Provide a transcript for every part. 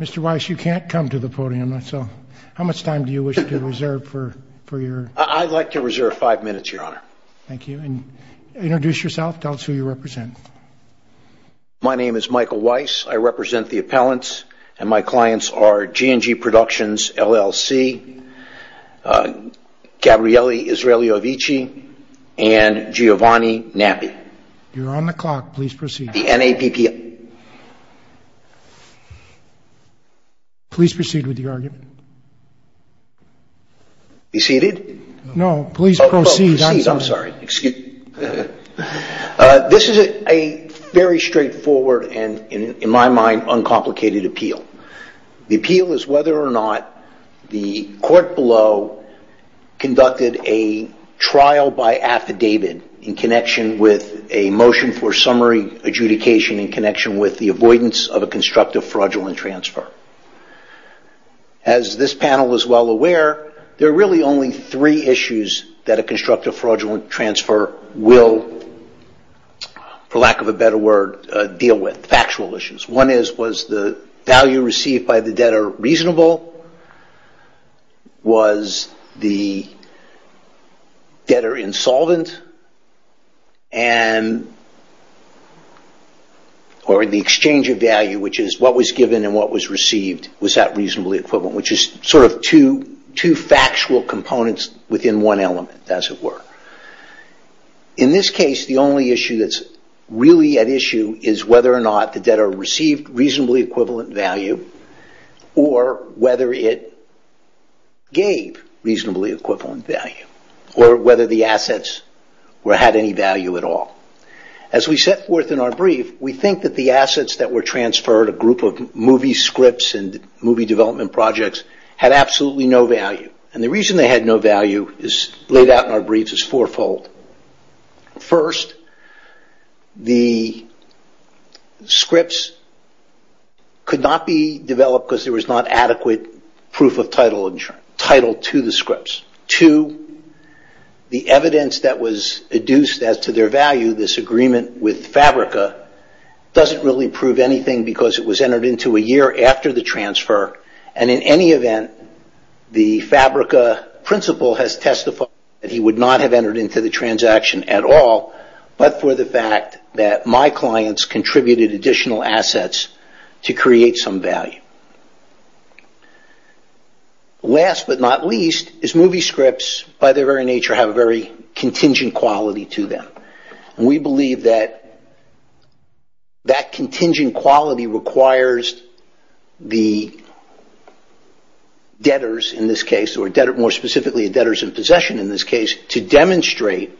Mr. Weiss you can't come to the podium so how much time do you wish to reserve for for your... I'd like to reserve five minutes your honor. Thank you and introduce yourself tell us who you represent. My name is Michael Weiss I represent the appellants and my clients are G&G Productions LLC Gabriele Israeliovici and Giovanni Nappi. You're on the clock please proceed. The NAPP. Please proceed with the argument. Be seated. No please proceed. I'm sorry excuse me. This is a very straightforward and in my mind uncomplicated appeal. The appeal is whether or not the court below conducted a trial by affidavit in connection with a motion for summary adjudication in connection with the avoidance of a constructive fraudulent transfer. As this panel is well aware there are really only three issues that a constructive fraudulent transfer will, for lack of a better word, deal with. Factual issues. One is was the value received by the debtor reasonable? Was the debtor insolvent? And or the exchange of value which is what was given and what was received was that reasonably equivalent? Which is sort of two factual components within one element as it were. In this case the only issue that's really at issue is whether or not the debtor received reasonably equivalent value or whether it gave reasonably equivalent value or whether the assets had any value at all. As we set forth in our brief we think that the assets that were transferred a group of movie scripts and movie development projects had absolutely no value and the reason they had no value is laid out in our briefs as fourfold. First, the scripts could not be developed because there was not adequate proof of title to the scripts. Two, the evidence that was adduced as to their value, this agreement with Fabrica, doesn't really prove anything because it was entered into a year after the transfer and in any event the Fabrica principal has testified that he would not have entered into the transaction at all but for the fact that my clients contributed additional assets to create some value. Last but not least is movie scripts by their very nature have a very contingent quality to them. We believe that that contingent quality requires the debtors in this case or debtor more specifically debtors in possession in this case to demonstrate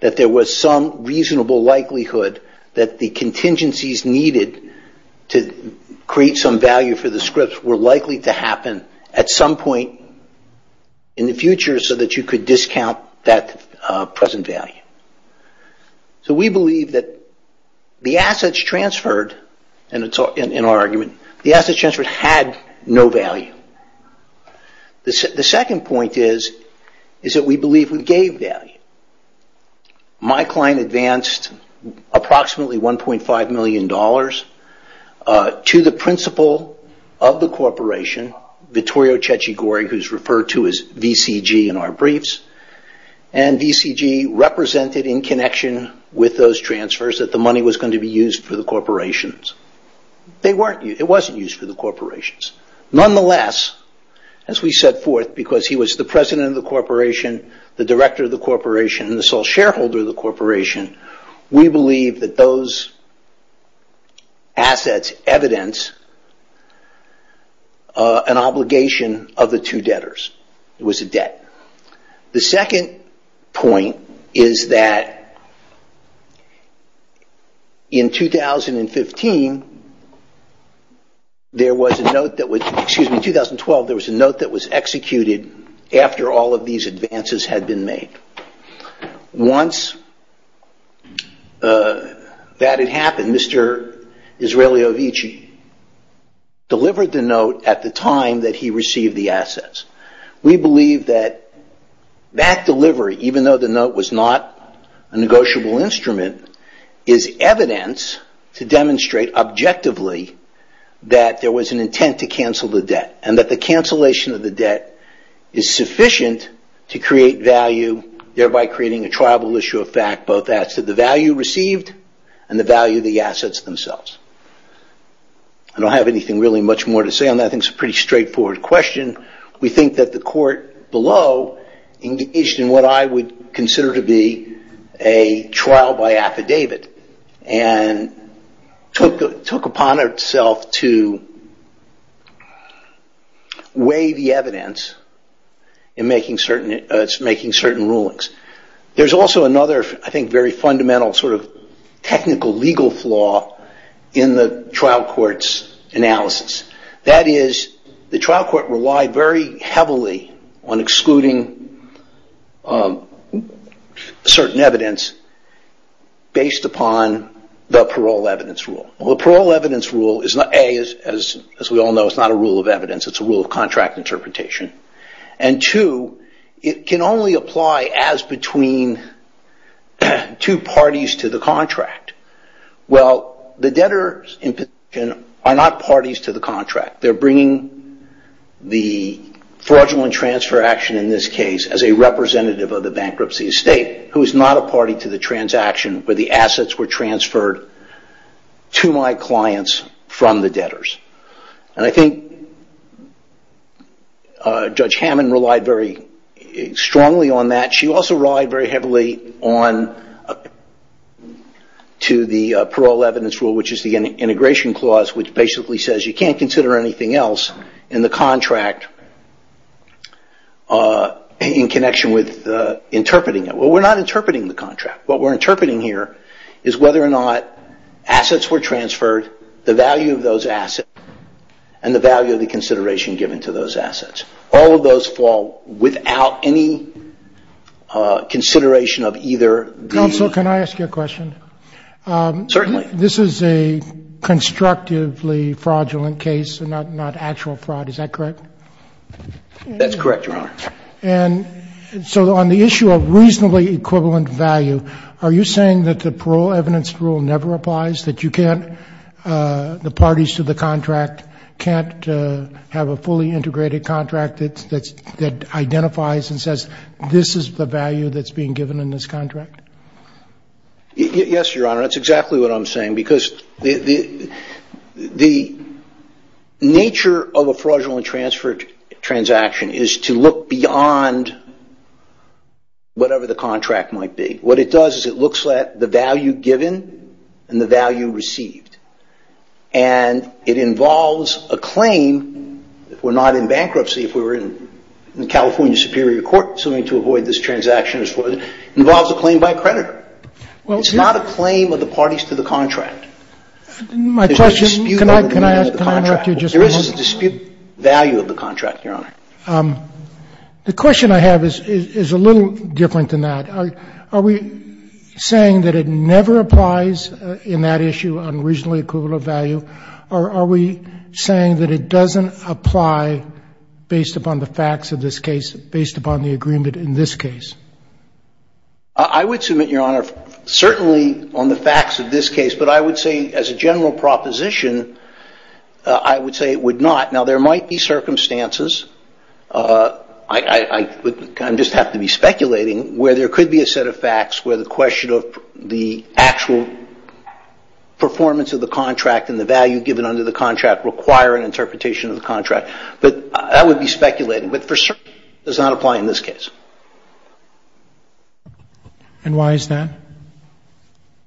that there was some reasonable likelihood that the contingencies needed to create some value for the scripts were likely to happen at some point in the future so that you could discount that present value. So we believe that the assets transferred in our argument, the assets transferred had no value. The second point is that we believe we gave value. My client advanced approximately 1.5 million dollars to the principal of the corporation, Vittorio Cecigori, who is referred to as VCG in our briefs and VCG represented in connection with those transfers that the money was going to be used for the corporations. It wasn't used for the corporations. Nonetheless, as we set forth because he was the president of the corporation, the director of the corporation and the sole shareholder of the corporation, we believe that those assets evidence an obligation of the two debtors. It was a debt. The second point is that in 2015 there was a note that was executed after all of these that had happened. Mr. Israeliovici delivered the note at the time that he received the assets. We believe that that delivery, even though the note was not a negotiable instrument, is evidence to demonstrate objectively that there was an intent to cancel the debt and that the cancellation of the debt is sufficient to create value, thereby creating a tribal issue of fact both as to the value received and the value of the assets themselves. I don't have anything really much more to say on that. I think it's a pretty straightforward question. We think that the court below engaged in what I would consider to be a trial by affidavit and took upon itself to weigh the evidence in making certain rulings. There's also another, I think, very fundamental sort of technical legal flaw in the trial court's analysis. That is, the trial court relied very heavily on excluding certain evidence based upon the parole evidence rule. The parole evidence rule, A, as we all know, is not a rule of evidence. It's a rule of balance between two parties to the contract. Well, the debtors are not parties to the contract. They're bringing the fraudulent transfer action, in this case, as a representative of the bankruptcy estate, who is not a party to the transaction where the assets were transferred to my clients from the debtors. I think Judge Hammond relied very strongly on that. She also relied very heavily on the parole evidence rule, which is the integration clause, which basically says you can't consider anything else in the contract in connection with interpreting it. Well, we're not interpreting the contract. What we're interpreting here is whether or not assets were transferred, the value of those assets, and the value of the consideration given to those assets. So, I think that's a very important consideration of either these... Counsel, can I ask you a question? Certainly. This is a constructively fraudulent case and not actual fraud. Is that correct? That's correct, Your Honor. And so on the issue of reasonably equivalent value, are you saying that the parole evidence rule never applies? That you can't, the parties to the contract can't have a fully integrated contract that identifies and says, this is the value that is being given in this contract? Yes, Your Honor. That's exactly what I'm saying because the nature of a fraudulent transfer transaction is to look beyond whatever the contract might be. What it does is it looks at the value given and the value received. And it involves a claim, if we're not in bankruptcy, if we were in the California Superior Court suing to avoid this transaction, it involves a claim by a creditor. It's not a claim of the parties to the contract. My question, can I ask, can I interrupt you just a moment? There is a dispute value of the contract, Your Honor. The question I have is a little different than that. Are we saying that it never applies in that issue on reasonably equivalent value? Or are we saying that it is based upon the agreement in this case? I would submit, Your Honor, certainly on the facts of this case. But I would say, as a general proposition, I would say it would not. Now, there might be circumstances, I just have to be speculating, where there could be a set of facts where the question of the actual performance of the contract and the value given under the contract require an interpretation of the contract. But that would be speculating. But for certain, it does not apply in this case. And why is that?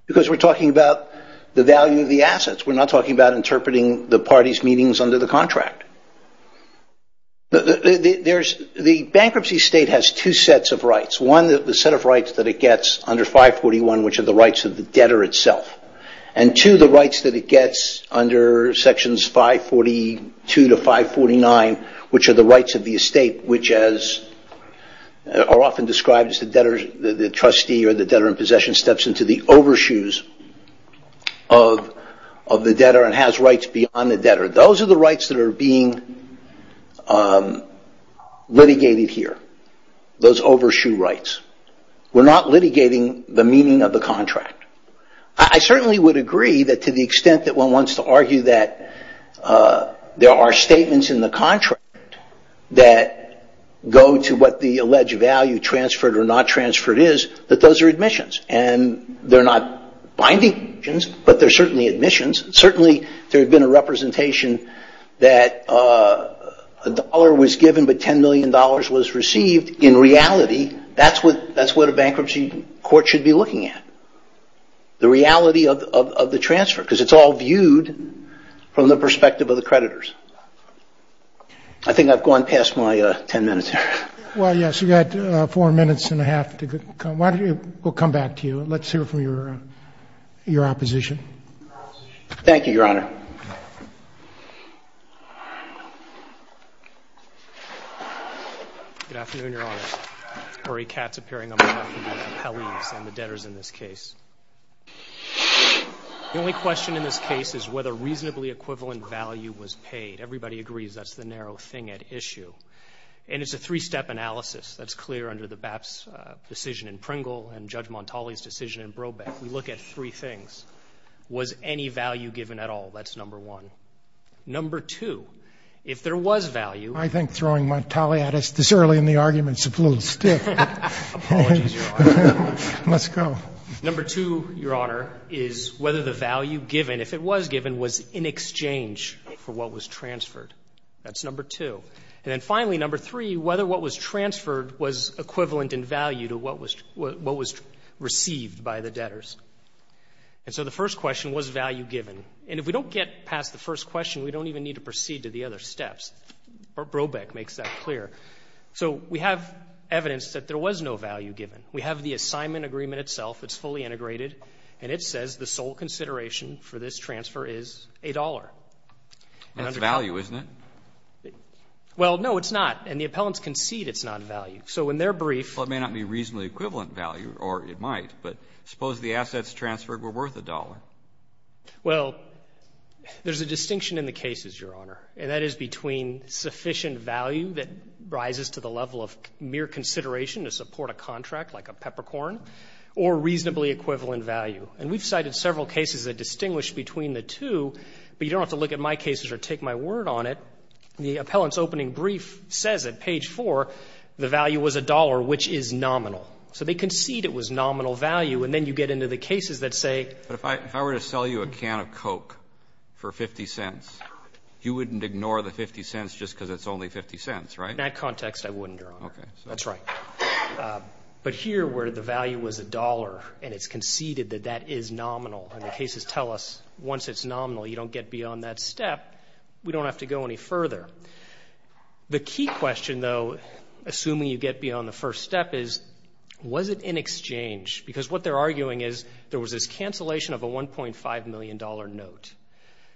Because we're talking about the value of the assets. We're not talking about interpreting the parties' meanings under the contract. The bankruptcy state has two sets of rights. One, the set of rights that it gets under 541, which are the rights of the debtor itself. And two, the rights that it gets under sections 542 to 549, which are the rights of the estate, which are often described as the debtor, the trustee, or the debtor in possession steps into the overshoes of the debtor and has rights beyond the debtor. Those are the rights that are being litigated here. Those overshoe rights. We're not litigating the meaning of the contract. I certainly would agree that to the extent that one wants to argue that there are statements in the contract that go to what the alleged value transferred or not transferred is, that those are admissions. And they're not binding conditions, but they're certainly admissions. Certainly, there had been a representation that a dollar was given but $10 million was received. In reality, that's what a bankruptcy court should be looking at. The reality of the transfer. Because it's all viewed from the perspective of the creditors. I think I've gone past my ten minutes here. Well, yes, you've got four minutes and a half to come. We'll come back to you. Let's hear from your opposition. Thank you, Your Honor. Good afternoon, Your Honor. Murray Katz appearing on behalf of the Capellians and the debtors in this case. The only question in this case is whether reasonably equivalent value was paid. Everybody agrees that's the narrow thing at issue. And it's a three-step analysis that's clear under the BAP's decision in Pringle and Judge Montali's decision in Brobeck. We look at three things. Was any value given at all? That's number one. Number two, if there was value... I think throwing Montali at us this early in the argument is a blue stick. Apologies, Your Honor. Let's go. Number two, Your Honor, is whether the value given, if it was given, was in exchange for what was transferred. That's number two. And then finally, number three, whether what was transferred was equivalent in value to what was received by the debtors. And so the first question, was value given? And if we don't get past the first question, we don't even need to proceed to the other steps. Brobeck makes that clear. So we have evidence that there was no value given. We have the assignment agreement itself. It's fully integrated. And it says the sole consideration for this transfer is a dollar. That's value, isn't it? Well, no, it's not. And the assets transferred were worth a dollar. Well, there's a distinction in the cases, Your Honor. And that is between sufficient value that rises to the level of mere consideration to support a contract, like a peppercorn, or reasonably equivalent value. And we've cited several cases that distinguish between the two, but you don't have to look at my cases or take my word on it. The appellant's value was a dollar, which is nominal. So they concede it was nominal value, and then you get into the cases that say... But if I were to sell you a can of Coke for 50 cents, you wouldn't ignore the 50 cents just because it's only 50 cents, right? In that context, I wouldn't, Your Honor. Okay. That's right. But here, where the value was a dollar, and it's conceded that that is nominal, and the cases tell us once it's nominal, you don't get beyond that step, we don't have to go any further. The key question, though, assuming you get beyond the first step, is, was it in exchange? Because what they're arguing is there was this cancellation of a $1.5 million note.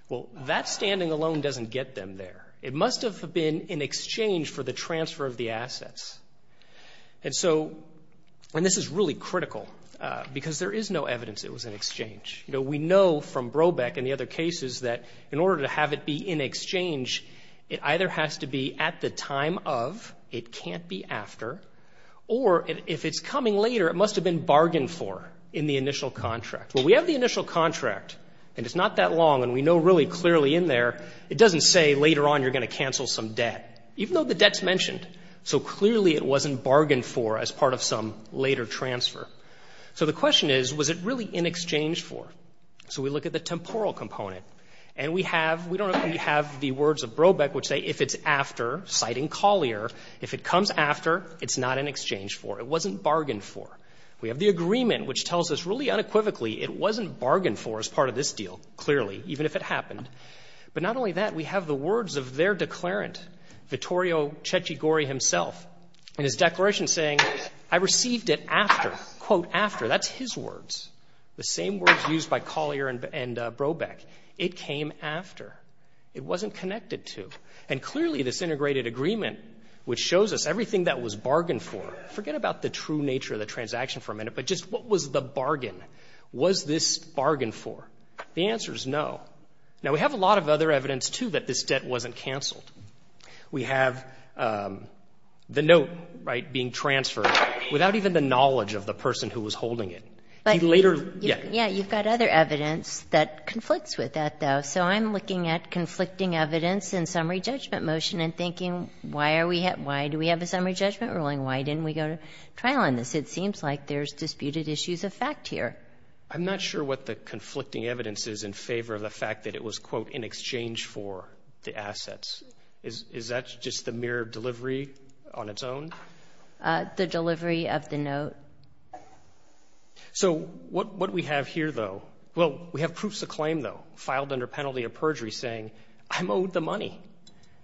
Well, that standing alone doesn't get them there. It must have been in exchange for the transfer of the assets. And so, and this is really critical, because there is no evidence it was in exchange. You know, we know from Brobeck and the other cases that in order to have it be in exchange, it either has to be at the time of, it can't be after, or if it's coming later, it must have been bargained for in the initial contract. Well, we have the initial contract, and it's not that long, and we know really clearly in there, it doesn't say later on you're going to cancel some debt, even though the debt's mentioned. So clearly it wasn't bargained for as part of some later transfer. So the question is, was it really in exchange for? So we look at the temporal component, and we have, we don't know if we have the words of Brobeck which say if it's after, citing Collier, if it comes after, it's not in exchange for. It wasn't bargained for. We have the agreement, which tells us really unequivocally it wasn't bargained for as part of this deal, clearly, even if it happened. But not only that, we have the words of their declarant, Vittorio Cecigori himself, in his declaration saying, I received it after, quote, after. That's his words, the same words used by Collier and Brobeck. It came after. It wasn't connected to. And clearly this integrated agreement, which shows us everything that was bargained for, forget about the true nature of the transaction for a minute, but just what was the bargain? Was this bargained for? The answer is no. Now, we have a lot of other evidence, too, that this debt wasn't canceled. We have the note, right, being transferred without even the knowledge of the person who was holding it. He later, yeah. Yeah, you've got other evidence that conflicts with that, though. So I'm looking at conflicting evidence and summary judgment motion and thinking, why do we have a summary judgment ruling? Why didn't we go to trial on this? It seems like there's disputed issues of fact here. I'm not sure what the conflicting evidence is in favor of the fact that it was, quote, in exchange for the assets. Is that just the mere delivery on its own? The delivery of the note. So what we have here, though, well, we have proofs of claim, though, filed under penalty of perjury saying, I'm owed the money.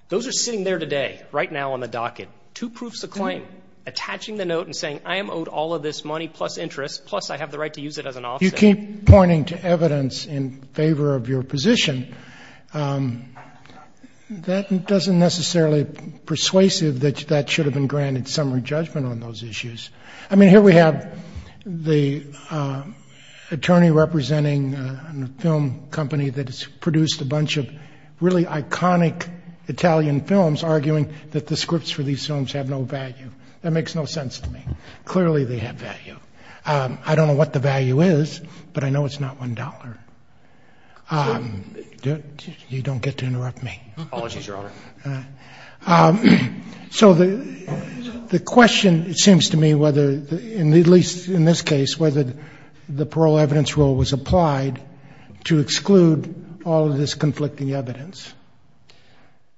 Those are sitting there today, right now on the docket. Two proofs of claim attaching the note and saying, I am owed all of this money plus interest, plus I have the right to use it as an offset. If you keep pointing to evidence in favor of your position, that doesn't necessarily persuasive that that should have been granted summary judgment on those issues. I mean, here we have the attorney representing a film company that has produced a bunch of really iconic Italian films arguing that the scripts for these films have no value. That makes no sense to me. Clearly, they have value. I don't know what the value is, but I know it's not one dollar. You don't get to interrupt me. Apologies, Your Honor. So the question, it seems to me, whether, at least in this case, whether the parole evidence rule was applied to exclude all of this conflicting evidence.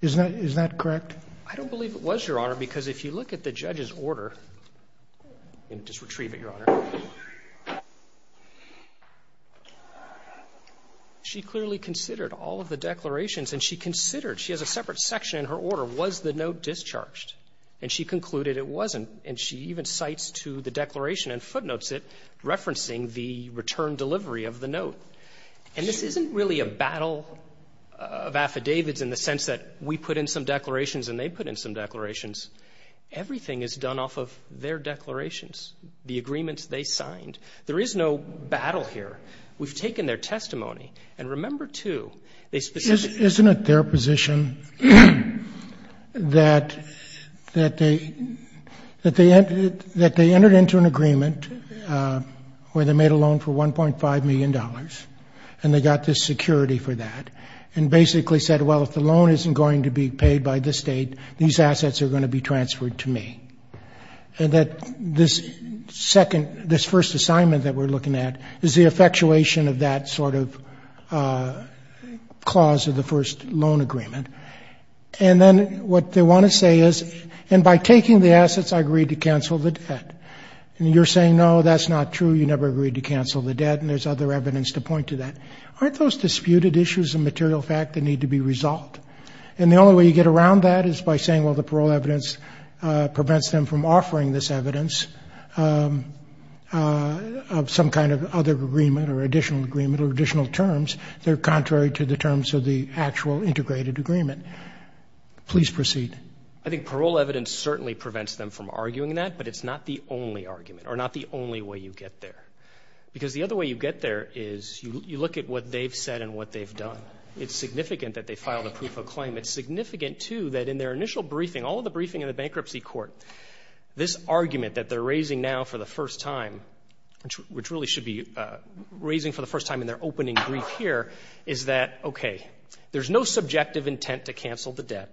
Is that correct? I don't believe it was, Your Honor, because if you look at the judge's order and just retrieve it, Your Honor. She clearly considered all of the declarations and she considered, she has a separate section in her order, was the note discharged? And she concluded it wasn't. And she even cites to the declaration and footnotes it, referencing the return delivery of the note. And this isn't really a battle of affidavits in the sense that we put in some declarations and they put in some of their declarations, the agreements they signed. There is no battle here. We've taken their testimony. And remember, too, they specifically Isn't it their position that they entered into an agreement where they made a loan for $1.5 million and they got this security for that and basically said, well, if the loan isn't going to be paid by the state, these and that this second, this first assignment that we're looking at is the effectuation of that sort of clause of the first loan agreement. And then what they want to say is, and by taking the assets, I agreed to cancel the debt. And you're saying, no, that's not true. You never agreed to cancel the debt. And there's other evidence to point to that. Aren't those disputed issues of material fact that need to be resolved? And the only way you get around that is by saying, well, the parole evidence prevents them from offering this evidence of some kind of other agreement or additional agreement or additional terms that are contrary to the terms of the actual integrated agreement. Please proceed. I think parole evidence certainly prevents them from arguing that, but it's not the only argument or not the only way you get there. Because the other way you get there is you look at what they've said and what they've done. It's significant that they filed a proof of claim. It's significant, too, that in their initial briefing, all of the briefing in the bankruptcy court, this argument that they're raising now for the first time, which really should be raising for the first time in their opening brief here, is that, okay, there's no subjective intent to cancel the debt.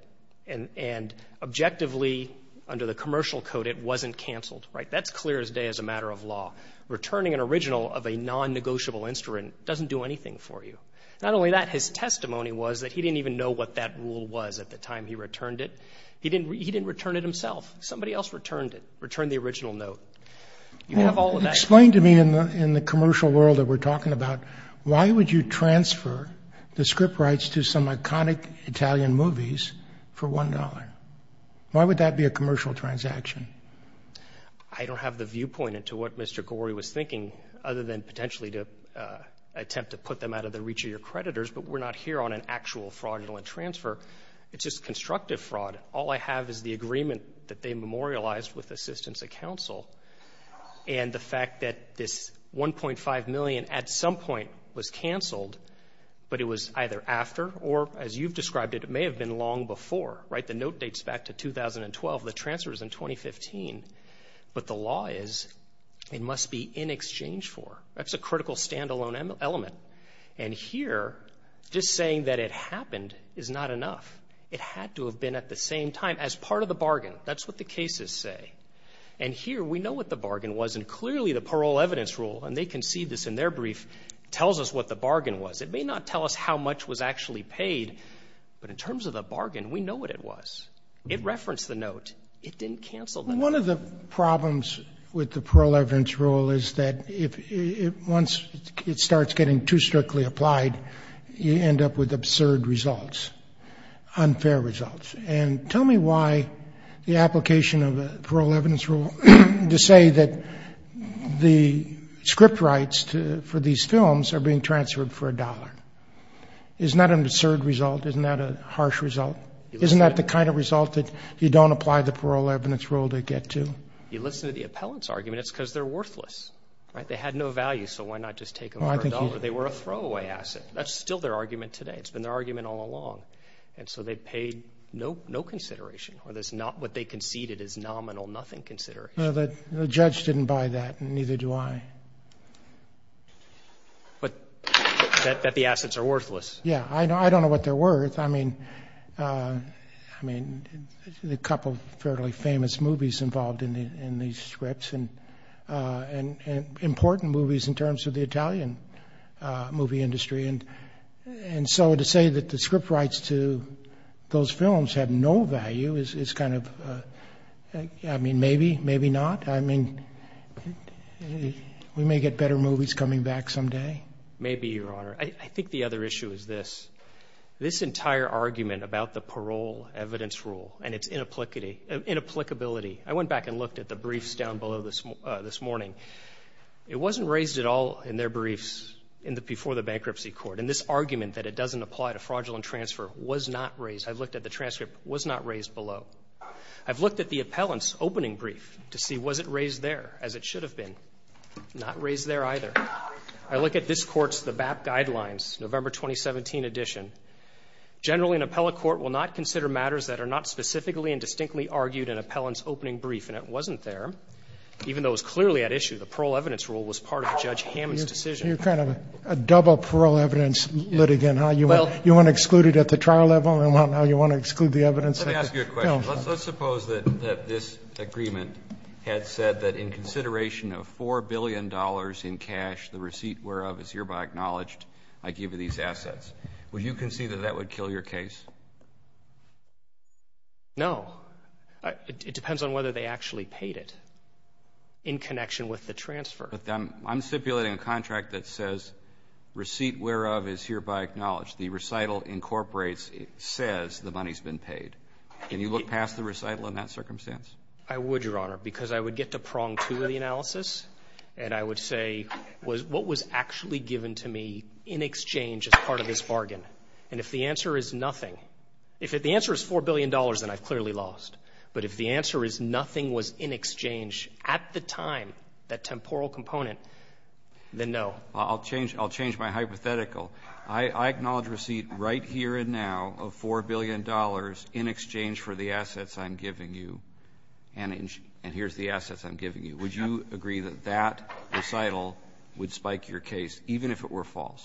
And objectively, under the commercial code, it wasn't canceled. Right? That's clear as day as a matter of law. Returning an original of a non-negotiable instrument doesn't do anything for you. Not only that, his testimony was that he didn't even know what that rule was at the time he returned it. He didn't return it himself. Somebody else returned it, returned the original note. Explain to me in the commercial world that we're talking about, why would you transfer the script rights to some iconic Italian movies for $1? Why would that be a commercial transaction? I don't have the viewpoint into what Mr. Gorey was thinking other than potentially to attempt to put them out of the reach of your creditors, but we're not here on an actual fraudulent transfer. It's just constructive fraud. All I have is the agreement that they memorialized with the assistance of counsel and the fact that this $1.5 million at some point was canceled, but it was either after or, as you've described it, it may have been long before. Right? The note dates back to 2012. The transfer was in 2015. But the law is it must be in exchange for. That's a critical stand-alone element. And here, just saying that it happened is not enough. It had to have been at the same time as part of the bargain. That's what the cases say. And here, we know what the bargain was, and clearly the parole evidence rule, and they concede this in their brief, tells us what the bargain was. It may not tell us how much was actually paid, but in terms of the bargain, we know what it was. It referenced the note. It didn't cancel the note. One of the problems with the parole evidence rule is that once it starts getting too strictly applied, you end up with absurd results, unfair results. And tell me why the application of a parole evidence rule to say that the script rights for these films are being transferred for a dollar. Isn't that an absurd result? Isn't that a harsh result? Isn't that the kind of result that you don't apply the parole evidence rule to get to? You listen to the appellant's arguments, and they're worthless. They had no value, so why not just take them for a dollar? They were a throwaway asset. That's still their argument today. It's been their argument all along. And so they paid no consideration. What they conceded is nominal, nothing consideration. The judge didn't buy that, and neither do I. But that the assets are worthless. Yeah. I don't know what they're worth. I mean, a couple of fairly famous movies involved in these scripts, and important movies in terms of the Italian movie industry. And so to say that the script rights to those films have no value is kind of, I mean, maybe, maybe not. I mean, we may get better movies coming back someday. Maybe, Your Honor. I think the other issue is this. This entire argument about the parole evidence rule and its inapplicability. I went back and looked at the briefs down below this morning. It wasn't raised at all in their briefs before the bankruptcy court. And this argument that it doesn't apply to fraudulent transfer was not raised. I've looked at the transcript. It was not raised below. I've looked at the appellant's opening brief to see was it raised there, as it should have been. Not raised there either. I look at this court's, the BAP guidelines, November 2017 edition. Generally, an appellate court will not consider matters that are not specifically and distinctly argued in an appellant's opening brief. And it wasn't there. Even though it was clearly at issue, the parole evidence rule was part of Judge Hammond's decision. You're kind of a double parole evidence litigant, huh? You want to exclude it at the trial level, and now you want to exclude the evidence? Let me ask you a question. Let's suppose that this agreement had said that in consideration of $4 billion in cash, the receipt whereof is hereby acknowledged, I give you these assets. Would you concede that that would kill your case? No. It depends on whether they actually paid it in connection with the transfer. I'm stipulating a contract that says receipt whereof is hereby acknowledged. The recital incorporates, it says the money's been paid. Can you look past the recital in that circumstance? I would, Your Honor, because I would get to prong two of the analysis, and I would say what was actually given to me in exchange as part of this bargain? And if the answer is nothing, if the answer is $4 billion, then I've clearly lost. But if the answer is nothing was in exchange at the time, that temporal component, then no. I'll change my hypothetical. I acknowledge receipt right here and now of $4 billion in exchange for the assets I'm giving you. And here's the assets I'm giving you. Would you agree that that recital would spike your case, even if it were false?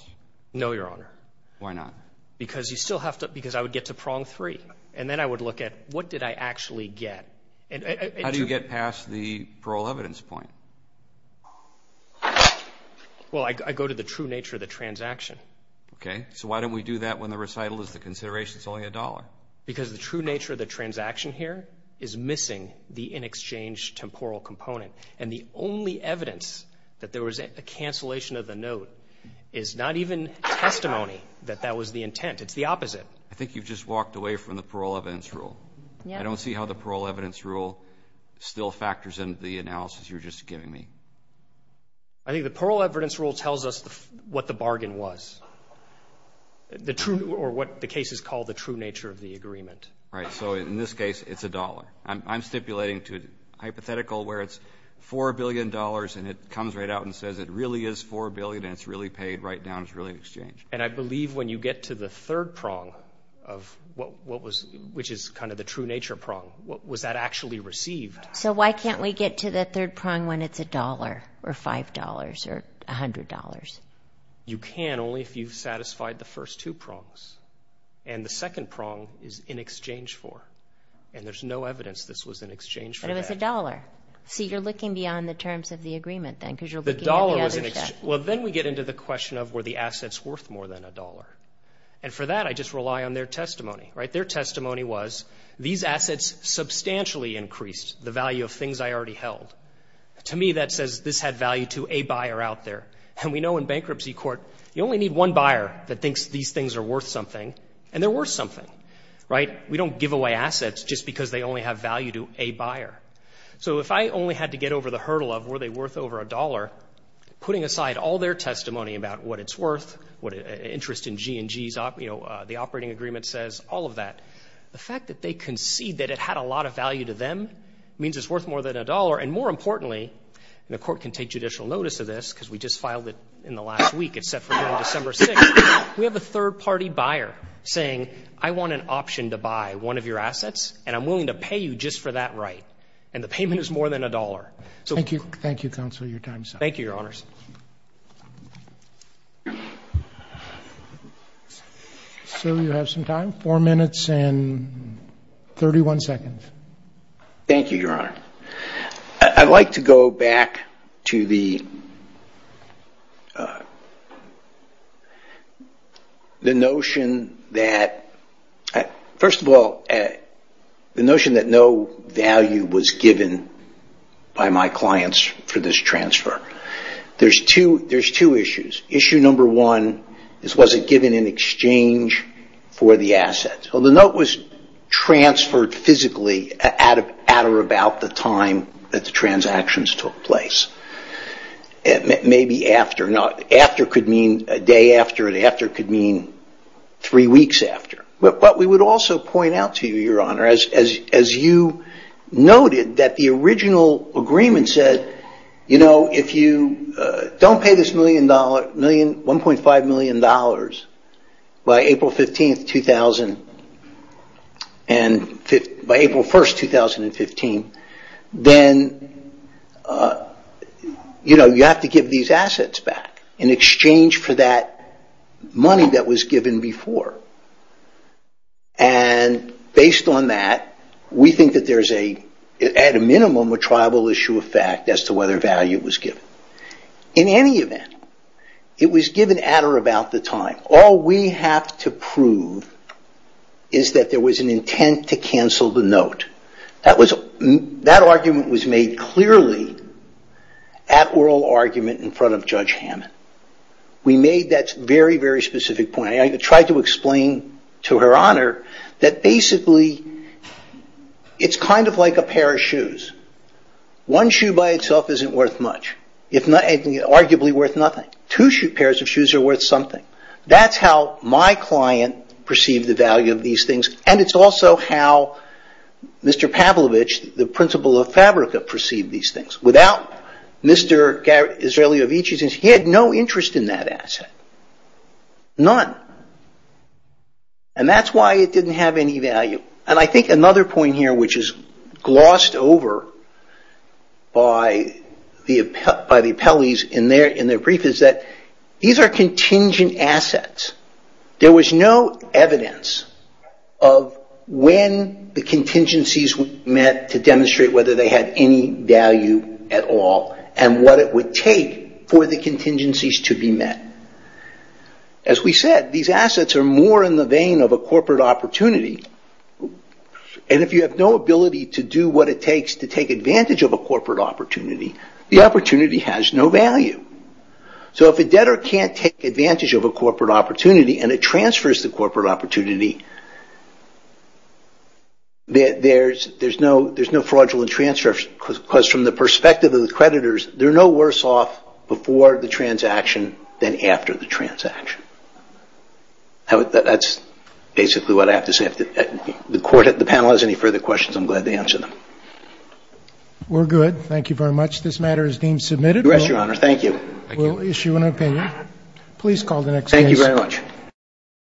No, Your Honor. Why not? Because I would get to prong three. And then I would look at what did I actually get? How do you get past the parole evidence point? Well, I go to the true nature of the transaction. Okay. So why don't we do that when the recital is the consideration it's only a dollar? Because the true nature of the transaction here is missing the in-exchange temporal component. And the only evidence that there was a cancellation of the note is not even testimony that that was the intent. It's the opposite. I think you've just walked away from the parole evidence rule. I don't see how the parole evidence rule still factors into the analysis you're just giving me. I think the parole evidence rule tells us what the bargain was. The true or what the case is called the true nature of the agreement. Right. So in this case, it's a dollar. I'm stipulating to hypothetical where it's $4 billion and it comes right out and says it really is $4 billion and it's really paid right down it's really an exchange. And I believe when you get to the third prong which is kind of the true nature prong, was that actually received? So why can't we get to the third prong when it's a dollar or $5 or $100? You can only if you've satisfied the first two prongs. And the second prong is in exchange for. And there's no evidence this was in exchange for that. But it was a dollar. So you're looking beyond the terms of the agreement then? Well then we get into the question of were the assets worth more than a dollar. And for that I just rely on their testimony. Their testimony was these assets substantially increased the value of things I already held. To me that says this had value to a buyer out there. And we know in bankruptcy court you only need one buyer that thinks these things are worth something and they're worth something. We don't give away assets just because they only have value to a buyer. So if I only had to get over the hurdle of were they worth over a dollar, putting aside all their testimony about what it's worth, interest in G&Gs, the operating agreement says, all of that. The fact that they concede that it had a lot of value to them means it's worth more than a dollar. And more importantly, and the court can take judicial notice of this because we just filed it in the last week. It's set for December 6th. We have a third party buyer saying I want an option to buy one of your G&Gs. I want to make sure I get that right. And the payment is more than a dollar. Thank you, counsel, your time is up. Thank you, your honors. So you have some time. Four minutes and 31 seconds. Thank you, your honor. I'd like to go back to the the notion that First of all, the notion that no value was given by my clients for this transfer. There's two issues. Issue number one is was it given in exchange for the assets? Well the note was transferred physically at or about the time that the transactions took place. Maybe after. After could mean a day after and after could mean three weeks after. But we would also point out to you, your honor, as you noted that the original agreement said you know if you don't pay this million dollars 1.5 million dollars by April 15th 2000 and by April 1st 2015 then you know you have to give these assets back in exchange for that money that was given before. And based on that, we think that there's a at a minimum a tribal issue of fact as to whether value was given. In any event, it was given at or about the time. All we have to prove is that there was an intent to cancel the note. That argument was made clearly at oral argument in front of Judge Hammond. We made that very very specific point. I tried to explain to her honor that basically it's kind of like a pair of shoes. One shoe by itself isn't worth much. Arguably worth nothing. Two pairs of shoes are worth something. That's how my client perceived the value of these things and it's also how Mr. Pavlovich the principal of Fabrica perceived these things. Without Mr. Izrailovich he had no interest in that asset. None. And that's why it didn't have any value. And I think another point here which is glossed over by the appellees in their brief is that these are contingent assets. There was no evidence of when the contingencies were met to demonstrate whether they had any value at all and what it would take for the contingencies to be met. As we said these assets are more in the vein of a corporate opportunity and if you have no ability to do what it takes to take advantage of a corporate opportunity the opportunity has no value. So if a debtor can't take advantage of a corporate opportunity and it transfers the corporate opportunity there's no fraudulent because from the perspective of the creditors they're no worse off before the transaction than after the transaction. That's basically what I have to say. If the panel has any further questions I'm glad to answer them. We're good. Thank you very much. This matter is deemed submitted. We'll issue an opinion. Please call the next case.